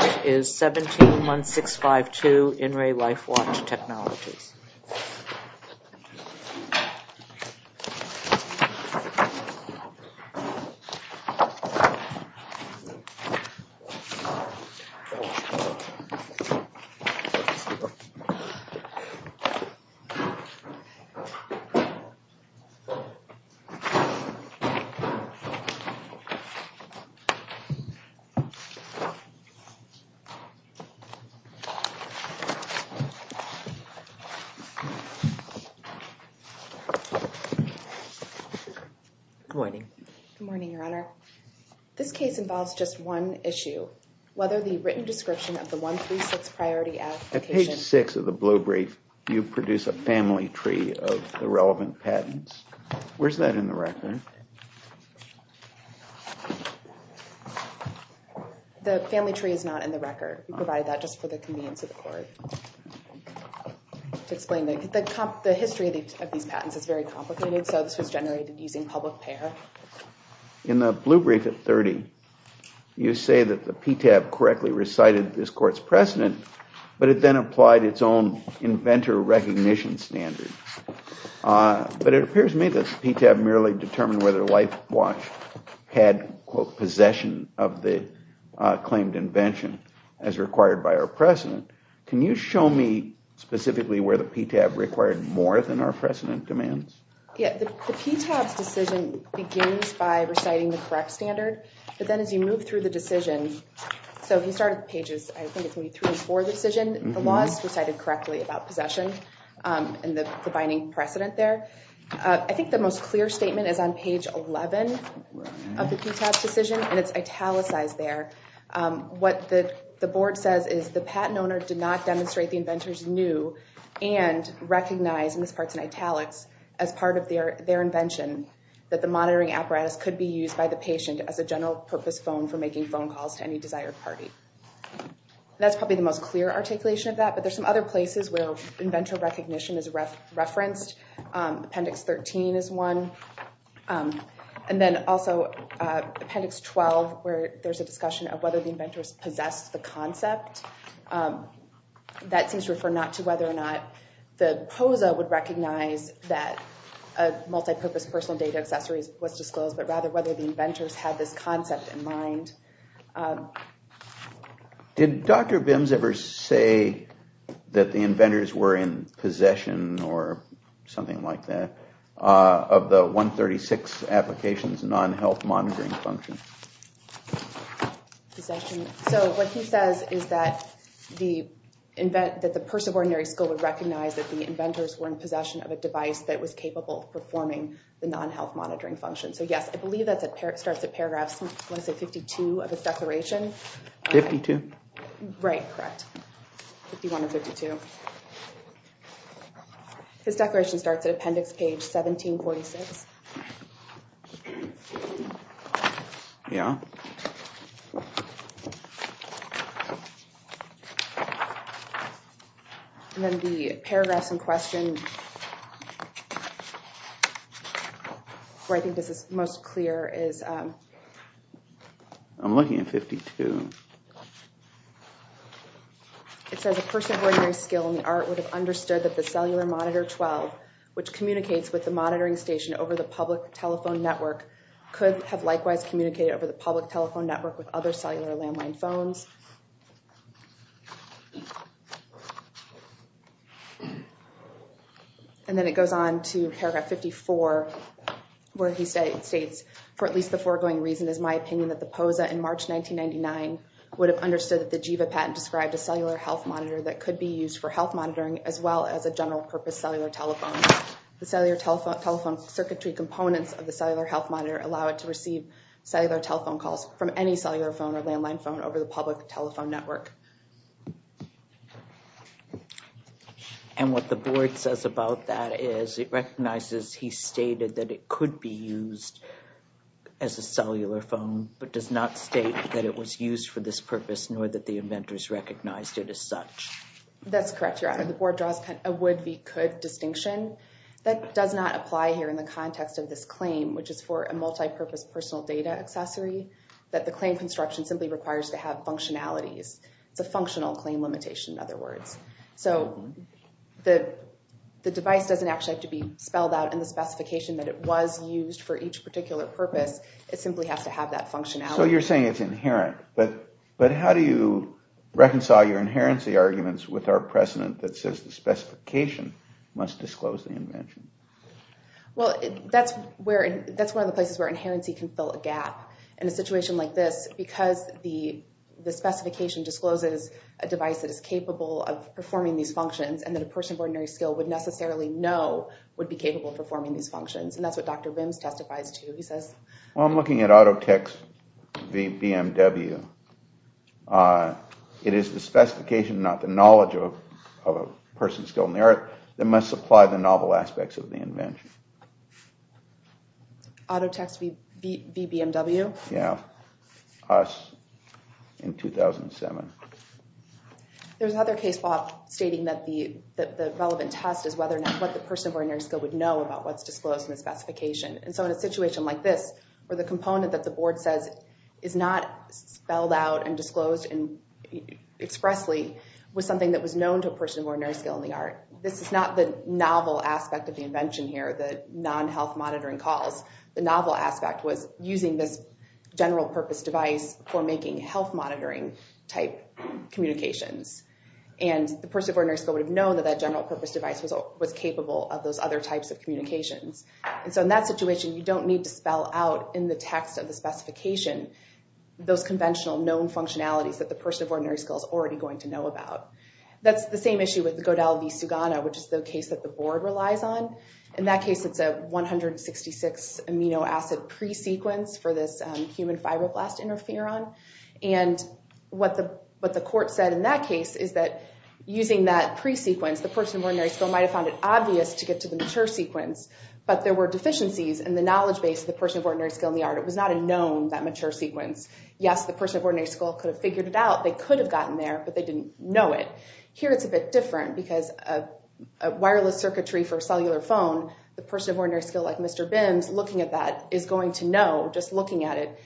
It is 171652 In Re LifeWatch Technologies. Good morning. Good morning, Your Honor. This case involves just one issue. Whether the written description of the 136 priority application... At page 6 of the blue brief, you produce a family tree of the relevant patents. Where's that in the record? The family tree is not in the record. We provided that just for the convenience of the court. The history of these patents is very complicated, so this was generated using public payer. In the blue brief at 30, you say that the PTAB correctly recited this court's precedent, but it then applied its own inventor recognition standard. But it appears to me that the PTAB merely determined whether LifeWatch had possession of the claimed invention as required by our precedent. Can you show me specifically where the PTAB required more than our precedent demands? The PTAB's decision begins by reciting the correct standard, but then as you move through the decision... The law is recited correctly about possession and the binding precedent there. I think the most clear statement is on page 11 of the PTAB's decision, and it's italicized there. What the board says is the patent owner did not demonstrate the inventor's new and recognized misparts and italics as part of their invention, that the monitoring apparatus could be used by the patient as a general purpose phone for making phone calls to any desired party. That's probably the most clear articulation of that, but there's some other places where inventor recognition is referenced. Appendix 13 is one, and then also Appendix 12, where there's a discussion of whether the inventors possessed the concept. That seems to refer not to whether or not the POSA would recognize that a multi-purpose personal data accessory was disclosed, but rather whether the inventors had this concept in mind. Did Dr. Bims ever say that the inventors were in possession or something like that of the 136 applications non-health monitoring function? So what he says is that the person of ordinary skill would recognize that the inventors were in possession of a device that was capable of performing the non-health monitoring function. So yes, I believe that starts at paragraphs, I want to say 52 of his declaration. 52? Right, correct. 51 or 52. His declaration starts at Appendix Page 1746. Yeah. And then the paragraphs in question, where I think this is most clear is... I'm looking at 52. It says a person of ordinary skill in the art would have understood that the cellular monitor 12, which communicates with the monitoring station over the public telephone network, could have likewise communicated over the public telephone network with other cellular landline phones. And then it goes on to paragraph 54, where he states, for at least the foregoing reason is my opinion that the POSA in March 1999 would have understood that the GIVA patent described a cellular health monitor that could be used for health monitoring, as well as a general purpose cellular telephone. The cellular telephone circuitry components of the cellular health monitor allow it to receive cellular telephone calls from any cellular phone or landline phone over the public telephone network. And what the board says about that is it recognizes he stated that it could be used as a cellular phone, but does not state that it was used for this purpose, nor that the inventors recognized it as such. That's correct, Your Honor. The board draws a would-be-could distinction. That does not apply here in the context of this claim, which is for a multipurpose personal data accessory, that the claim construction simply requires to have functionalities. It's a functional claim limitation, in other words. So the device doesn't actually have to be spelled out in the specification that it was used for each particular purpose. It simply has to have that functionality. So you're saying it's inherent, but how do you reconcile your inherency arguments with our precedent that says the specification must disclose the invention? Well, that's one of the places where inherency can fill a gap. In a situation like this, because the specification discloses a device that is capable of performing these functions, and that a person of ordinary skill would necessarily know would be capable of performing these functions, and that's what Dr. Wimms testifies to. Well, I'm looking at Autotext v. BMW. It is the specification, not the knowledge of a person skilled in the art, that must supply the novel aspects of the invention. Autotext v. BMW? Yeah. Us, in 2007. There's another case, Bob, stating that the relevant test is whether or not what the person of ordinary skill would know about what's disclosed in the specification. And so in a situation like this, where the component that the board says is not spelled out and disclosed expressly, was something that was known to a person of ordinary skill in the art. This is not the novel aspect of the invention here, the non-health monitoring calls. The novel aspect was using this general-purpose device for making health-monitoring-type communications. And the person of ordinary skill would have known that that general-purpose device was capable of those other types of communications. And so in that situation, you don't need to spell out in the text of the specification those conventional known functionalities that the person of ordinary skill is already going to know about. That's the same issue with the Godel v. Sugana, which is the case that the board relies on. In that case, it's a 166-amino acid pre-sequence for this human fibroblast interferon. And what the court said in that case is that using that pre-sequence, the person of ordinary skill might have found it obvious to get to the mature sequence, but there were deficiencies in the knowledge base of the person of ordinary skill in the art. It was not a known, that mature sequence. Yes, the person of ordinary skill could have figured it out. They could have gotten there, but they didn't know it. Here, it's a bit different, because a wireless circuitry for a cellular phone, the person of ordinary skill, like Mr. Bims, looking at that, is going to know, just looking at it,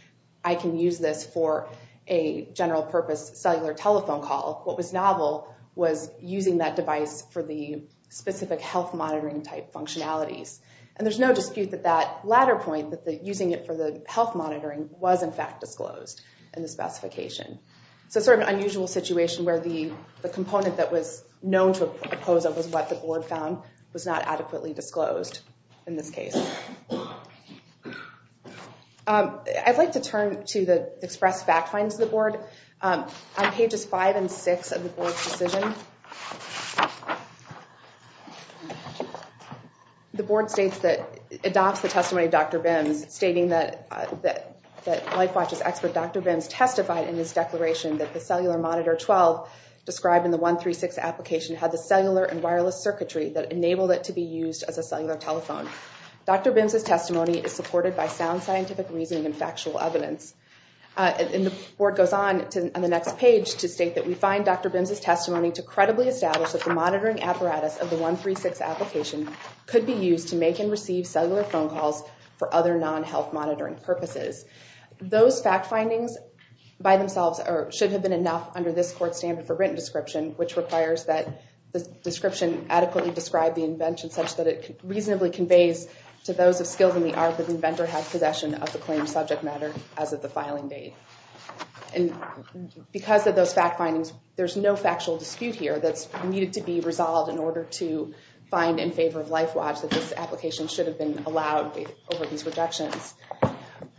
I can use this for a general-purpose cellular telephone call. What was novel was using that device for the specific health monitoring-type functionalities. And there's no dispute that that latter point, that using it for the health monitoring, was in fact disclosed in the specification. So it's sort of an unusual situation where the component that was known to oppose it was what the board found was not adequately disclosed in this case. I'd like to turn to the express fact finds of the board. On pages 5 and 6 of the board's decision, the board states that, adopts the testimony of Dr. Bims, stating that LifeWatch's expert Dr. Bims testified in his declaration that the Cellular Monitor 12, described in the 136 application, had the cellular and wireless circuitry that enabled it to be used as a cellular telephone. Dr. Bims' testimony is supported by sound scientific reasoning and factual evidence. And the board goes on to the next page, to state that we find Dr. Bims' testimony to credibly establish that the monitoring apparatus of the 136 application could be used to make and receive cellular phone calls for other non-health monitoring purposes. Those fact findings, by themselves, should have been enough under this Court's standard for written description, which requires that the description adequately describe the invention, such that it reasonably conveys to those of skill in the art that the inventor had possession of the claimed subject matter as of the filing date. And because of those fact findings, there's no factual dispute here that's needed to be resolved in order to find in favor of LifeWatch that this application should have been allowed over these rejections.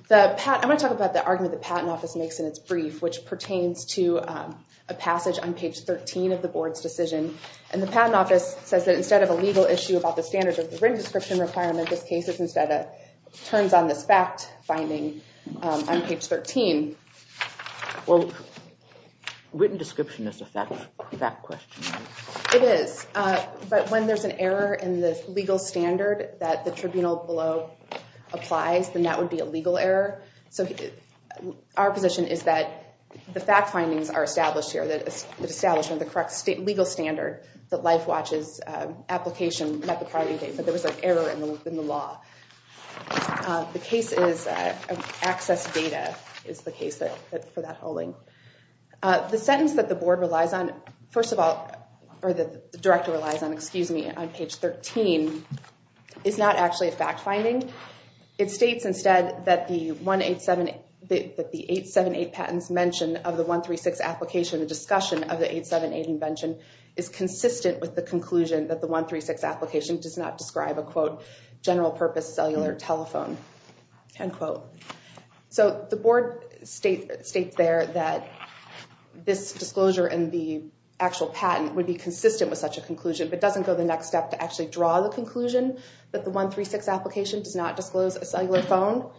I'm going to talk about the argument the Patent Office makes in its brief, which pertains to a passage on page 13 of the board's decision. And the Patent Office says that instead of a legal issue about the standards of the written description requirement, this case turns on this fact finding on page 13. Well, written description is a fact question. It is. But when there's an error in the legal standard that the tribunal below applies, then that would be a legal error. So our position is that the fact findings are established here that establish the correct legal standard that LifeWatch's application met the filing date, but there was an error in the law. The case is access data is the case for that holding. The sentence that the board relies on, first of all, or the director relies on, excuse me, on page 13, is not actually a fact finding. It states instead that the 878 patents mentioned of the 136 application, the discussion of the 878 invention, is consistent with the conclusion that the 136 application does not describe a, quote, general purpose cellular telephone, end quote. So the board states there that this disclosure and the actual patent would be consistent with such a conclusion, but doesn't go the next step to actually draw the conclusion that the 136 application does not disclose a cellular phone.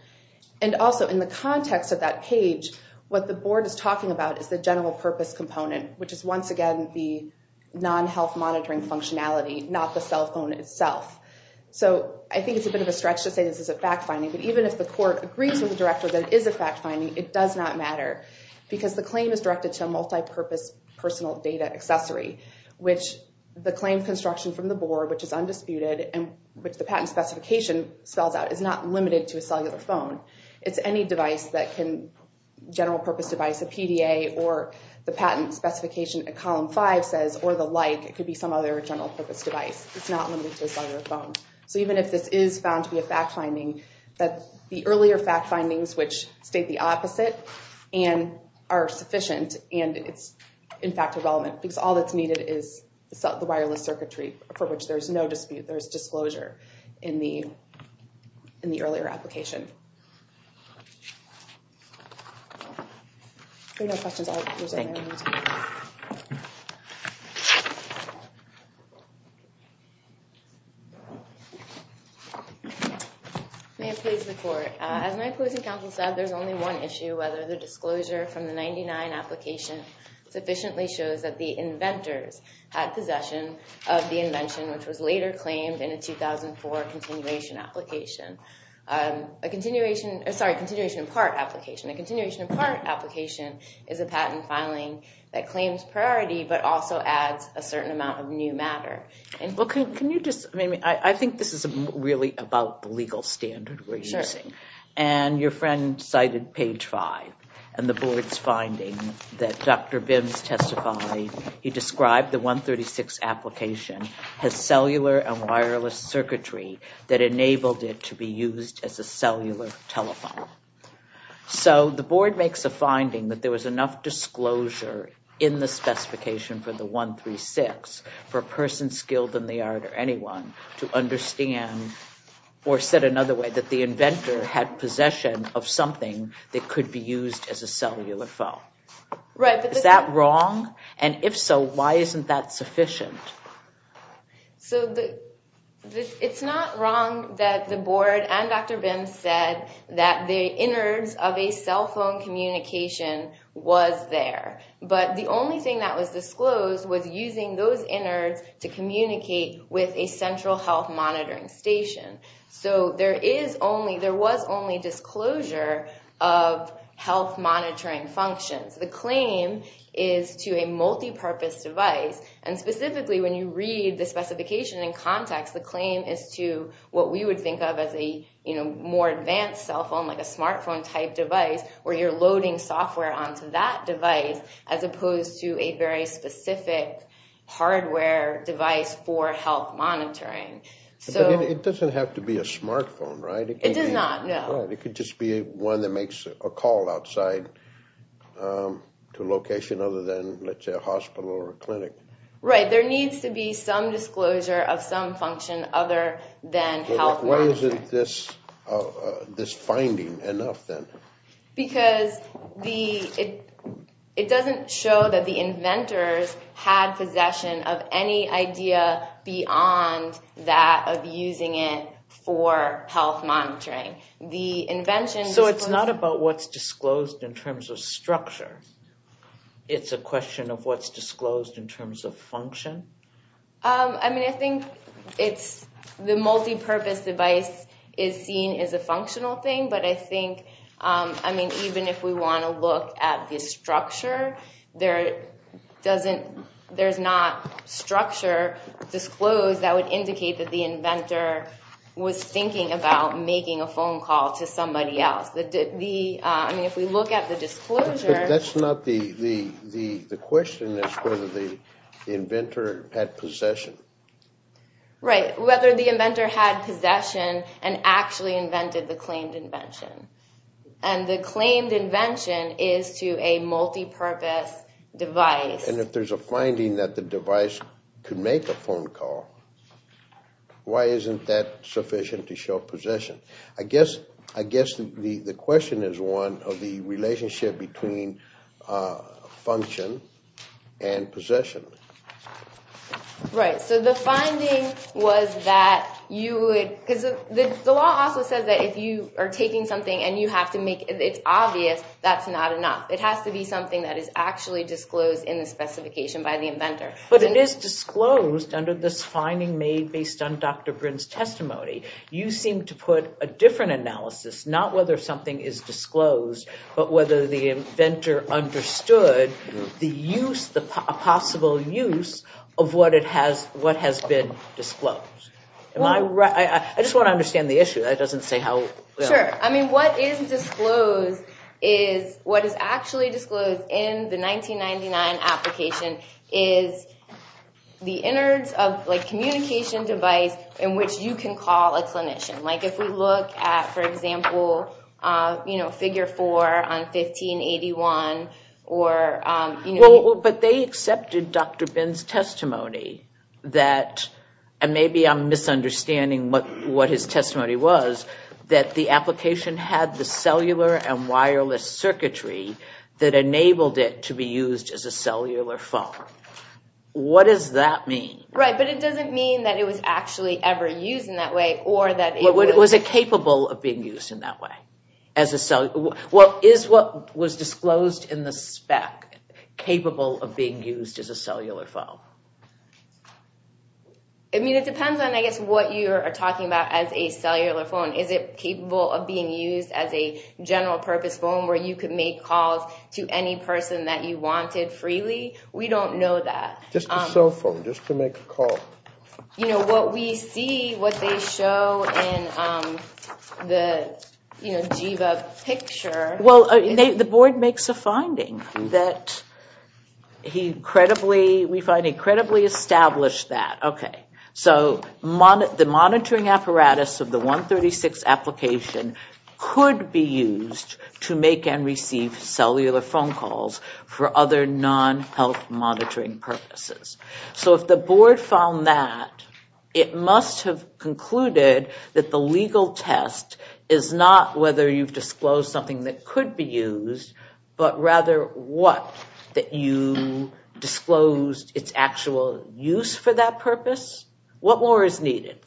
And also in the context of that page, what the board is talking about is the general purpose component, which is once again the non-health monitoring functionality, not the cell phone itself. So I think it's a bit of a stretch to say this is a fact finding, but even if the court agrees with the director that it is a fact finding, it does not matter because the claim is directed to a multi-purpose personal data accessory, which the claim construction from the board, which is undisputed, and which the patent specification spells out, is not limited to a cellular phone. It's any device that can, general purpose device, a PDA, or the patent specification at column five says, or the like, it could be some other general purpose device. It's not limited to a cellular phone. So even if this is found to be a fact finding, the earlier fact findings, which state the opposite, are sufficient and it's in fact relevant because all that's needed is the wireless circuitry, for which there's no dispute. There's disclosure in the earlier application. Thank you. If there are no questions, I'll present. May I please report? As my opposing counsel said, there's only one issue, whether the disclosure from the 99 application sufficiently shows that the inventors had possession of the invention, which was later claimed in a 2004 continuation application. A continuation, sorry, continuation in part application. A continuation in part application is a patent filing that claims priority, but also adds a certain amount of new matter. Well, can you just, I mean, I think this is really about the legal standard we're using. Sure. And your friend cited page five and the board's finding that Dr. Bins testified, he described the 136 application as cellular and wireless circuitry that enabled it to be used as a cellular telephone. So the board makes a finding that there was enough disclosure in the specification for the 136 for a person skilled in the art or anyone to understand, or said another way that the inventor had possession of something that could be used as a cellular phone. Right. Is that wrong? And if so, why isn't that sufficient? So it's not wrong that the board and Dr. Bins said that the innards of a cell phone communication was there, but the only thing that was disclosed was using those innards to communicate with a central health monitoring station. So there is only, there was only disclosure of health monitoring functions. The claim is to a multipurpose device. And specifically when you read the specification in context, the claim is to what we would think of as a more advanced cell phone, like a smartphone type device where you're loading software onto that device, as opposed to a very specific hardware device for health monitoring. But it doesn't have to be a smartphone, right? It does not, no. It could just be one that makes a call outside to a location other than, let's say, a hospital or a clinic. Right. There needs to be some disclosure of some function other than health monitoring. Why isn't this finding enough then? Because it doesn't show that the inventors had possession of any idea beyond that of using it for health monitoring. So it's not about what's disclosed in terms of structure. It's a question of what's disclosed in terms of function? I mean, I think it's, the multipurpose device is seen as a functional thing, but I think, I mean, even if we want to look at the structure, there doesn't, there's not structure disclosed that would indicate that the inventor was thinking about making a phone call to somebody else. The, I mean, if we look at the disclosure. That's not the, the question is whether the inventor had possession. Right. Whether the inventor had possession and actually invented the claimed invention. And the claimed invention is to a multipurpose device. And if there's a finding that the device could make a phone call, why isn't that sufficient to show possession? I guess, I guess the question is one of the relationship between function and possession. Right. So the finding was that you would, because the law also says that if you are taking something and you have to make it obvious, that's not enough. It has to be something that is actually disclosed in the specification by the inventor. But it is disclosed under this finding made based on Dr. Brin's testimony. You seem to put a different analysis, not whether something is disclosed, but whether the inventor understood the use, the possible use of what it has, what has been disclosed. Am I right? I just want to understand the issue. That doesn't say how. Sure. I mean, what is disclosed is what is actually disclosed in the 1999 application is the innards of like communication device in which you can call a clinician. Like if we look at, for example, you know, figure four on 1581 or, you know. Well, but they accepted Dr. Brin's testimony that, and maybe I'm misunderstanding what his testimony was, that the application had the cellular and wireless circuitry that enabled it to be used as a cellular phone. What does that mean? Right, but it doesn't mean that it was actually ever used in that way or that it was. Was it capable of being used in that way? Well, is what was disclosed in the spec capable of being used as a cellular phone? I mean, it depends on, I guess, what you are talking about as a cellular phone. Is it capable of being used as a general purpose phone where you could make calls to any person that you wanted freely? We don't know that. Just a cell phone, just to make a call. You know, what we see, what they show in the, you know, GIVA picture. Well, the board makes a finding that he credibly, we find he credibly established that. Okay, so the monitoring apparatus of the 136 application could be used to make and receive cellular phone calls for other non-health monitoring purposes. So if the board found that, it must have concluded that the legal test is not whether you've disclosed something that could be used, but rather what, that you disclosed its actual use for that purpose? What more is needed?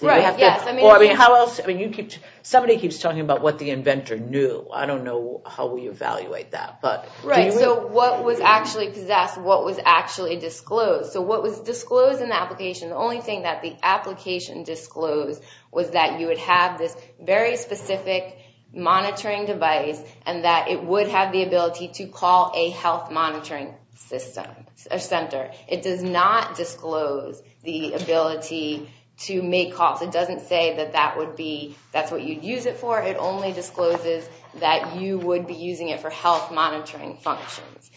Somebody keeps talking about what the inventor knew. I don't know how we evaluate that. Right, so what was actually possessed, what was actually disclosed. So what was disclosed in the application, the only thing that the application disclosed was that you would have this very specific monitoring device and that it would have the ability to call a health monitoring system, a center. It does not disclose the ability to make calls. It doesn't say that that would be, that's what you'd use it for. It only discloses that you would be using it for health monitoring functions.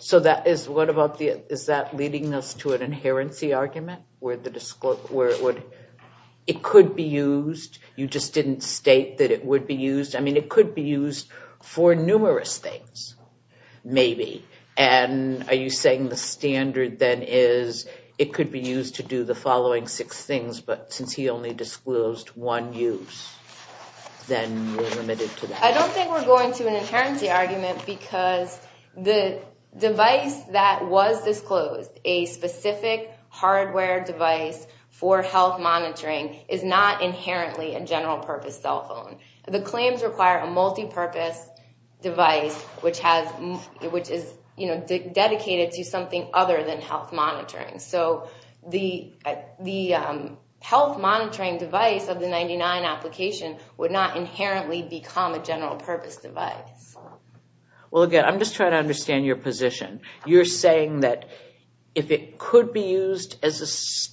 So that is, what about the, is that leading us to an inherency argument? Where the, it could be used, you just didn't state that it would be used. I mean, it could be used for numerous things, maybe. And are you saying the standard then is it could be used to do the following six things, but since he only disclosed one use, then we're limited to that. I don't think we're going to an inherency argument because the device that was disclosed, a specific hardware device for health monitoring, is not inherently a general purpose cell phone. The claims require a multipurpose device, which is dedicated to something other than health monitoring. So the health monitoring device of the 99 application would not inherently become a general purpose device. Well, again, I'm just trying to understand your position. You're saying that if it could be used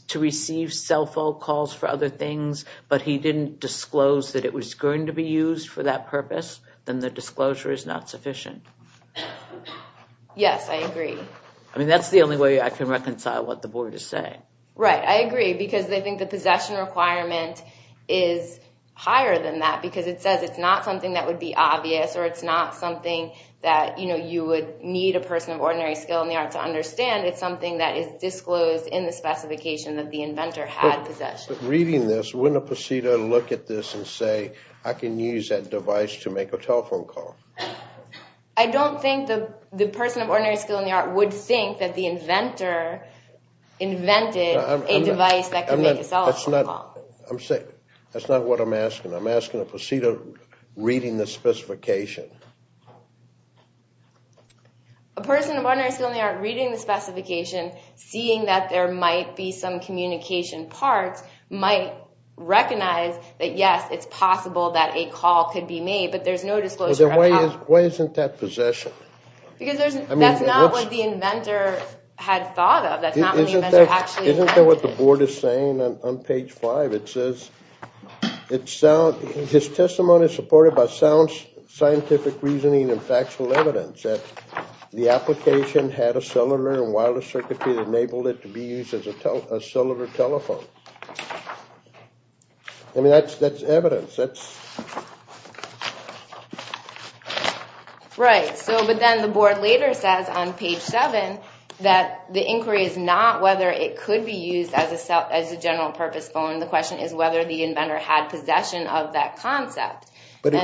to receive cell phone calls for other things, but he didn't disclose that it was going to be used for that purpose, then the disclosure is not sufficient. Yes, I agree. I mean, that's the only way I can reconcile what the Board is saying. Right, I agree, because I think the possession requirement is higher than that, because it says it's not something that would be obvious, or it's not something that, you know, you would need a person of ordinary skill in the arts to understand. It's something that is disclosed in the specification that the inventor had possession. Reading this, wouldn't a prosecutor look at this and say, I can use that device to make a telephone call? I don't think the person of ordinary skill in the arts would think that the inventor invented a device that could make a cell phone call. I'm saying, that's not what I'm asking. I'm asking a prosecutor reading the specification. A person of ordinary skill in the arts reading the specification, seeing that there might be some communication parts, might recognize that, yes, it's possible that a call could be made, but there's no disclosure at all. Why isn't that possession? Because that's not what the inventor had thought of. That's not what the inventor actually invented. Isn't that what the Board is saying on page five? It says, his testimony is supported by sound scientific reasoning and factual evidence that the application had a cellular and wireless circuitry that enabled it to be used as a cellular telephone. I mean, that's evidence. Right. But then the Board later says on page seven that the inquiry is not whether it could be used as a general purpose phone. The question is whether the inventor had possession of that concept. But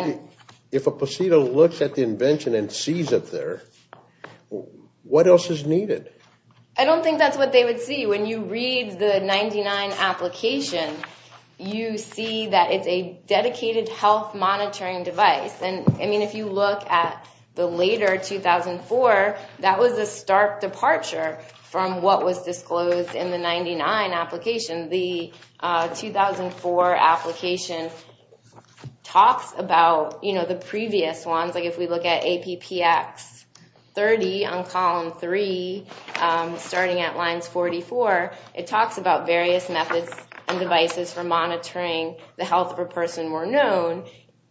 if a prosecutor looks at the invention and sees it there, what else is needed? I don't think that's what they would see. When you read the 99 application, you see that it's a dedicated health monitoring device. I mean, if you look at the later 2004, that was a stark departure from what was disclosed in the 99 application. The 2004 application talks about the previous ones. If we look at APPX 30 on column three, starting at lines 44, it talks about various methods and devices for monitoring the health of a person or known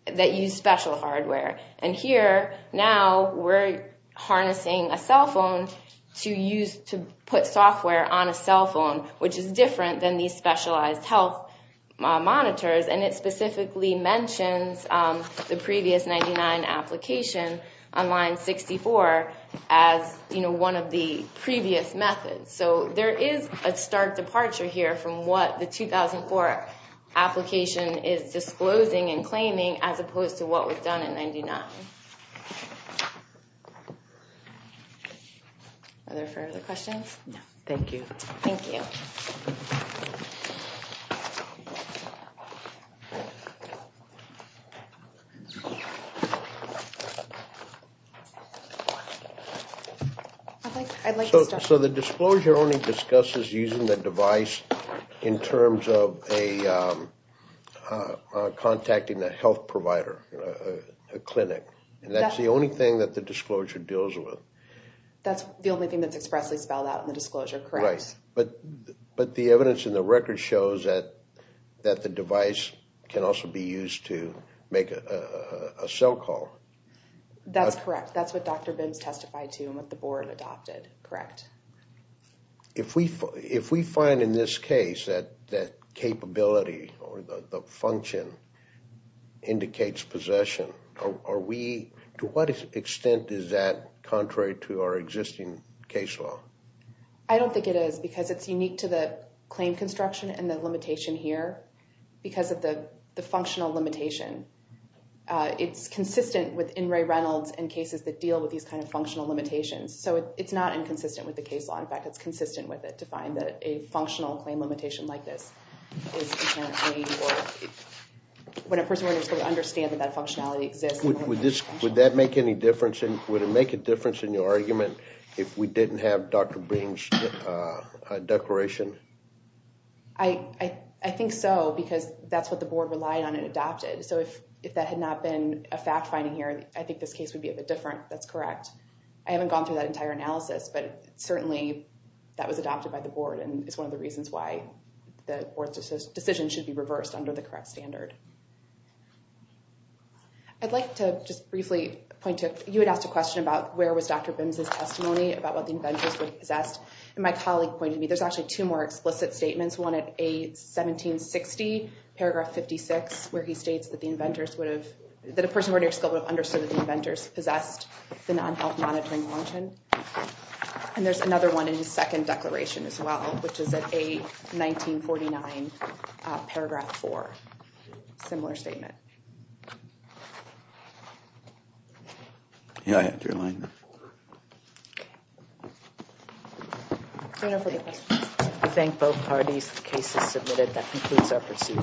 that use special hardware. And here, now we're harnessing a cell phone to put software on a cell phone, which is different than these specialized health monitors. And it specifically mentions the previous 99 application on line 64 as one of the previous methods. So there is a stark departure here from what the 2004 application is disclosing and claiming as opposed to what was done in 99. Are there further questions? No, thank you. Thank you. So the disclosure only discusses using the device in terms of a contacting the health provider, a clinic. And that's the only thing that the disclosure deals with. That's the only thing that's expressly spelled out in the disclosure, correct? But the evidence in the record shows that the device can also be used to make a cell call. That's correct. That's what Dr. Binns testified to and what the board adopted. Correct. If we find in this case that capability or the function indicates possession, to what extent is that contrary to our existing case law? I don't think it is because it's unique to the claim construction and the limitation here because of the functional limitation. It's consistent within Ray Reynolds and cases that deal with these kind of functional limitations. So it's not inconsistent with the case law. In fact, it's consistent with it to find that a functional claim limitation like this. When a person is going to understand that that functionality exists. Would that make any difference? Would it make a difference in your argument if we didn't have Dr. Binns' declaration? I think so because that's what the board relied on and adopted. So if that had not been a fact finding here, I think this case would be a bit different. That's correct. I haven't gone through that entire analysis, but certainly that was adopted by the board and is one of the reasons why the board's decision should be reversed under the correct standard. I'd like to just briefly point to, you had asked a question about where was Dr. Binns' testimony about what the inventors would have possessed. And my colleague pointed me, there's actually two more explicit statements. One at A1760, paragraph 56, where he states that the inventors would have, that a person would have understood that the inventors possessed the non-health monitoring function. And there's another one in his second declaration as well, which is at A1949, paragraph 4. Similar statement. Yeah, I had your line there. I thank both parties. The case is submitted. That concludes our proceedings.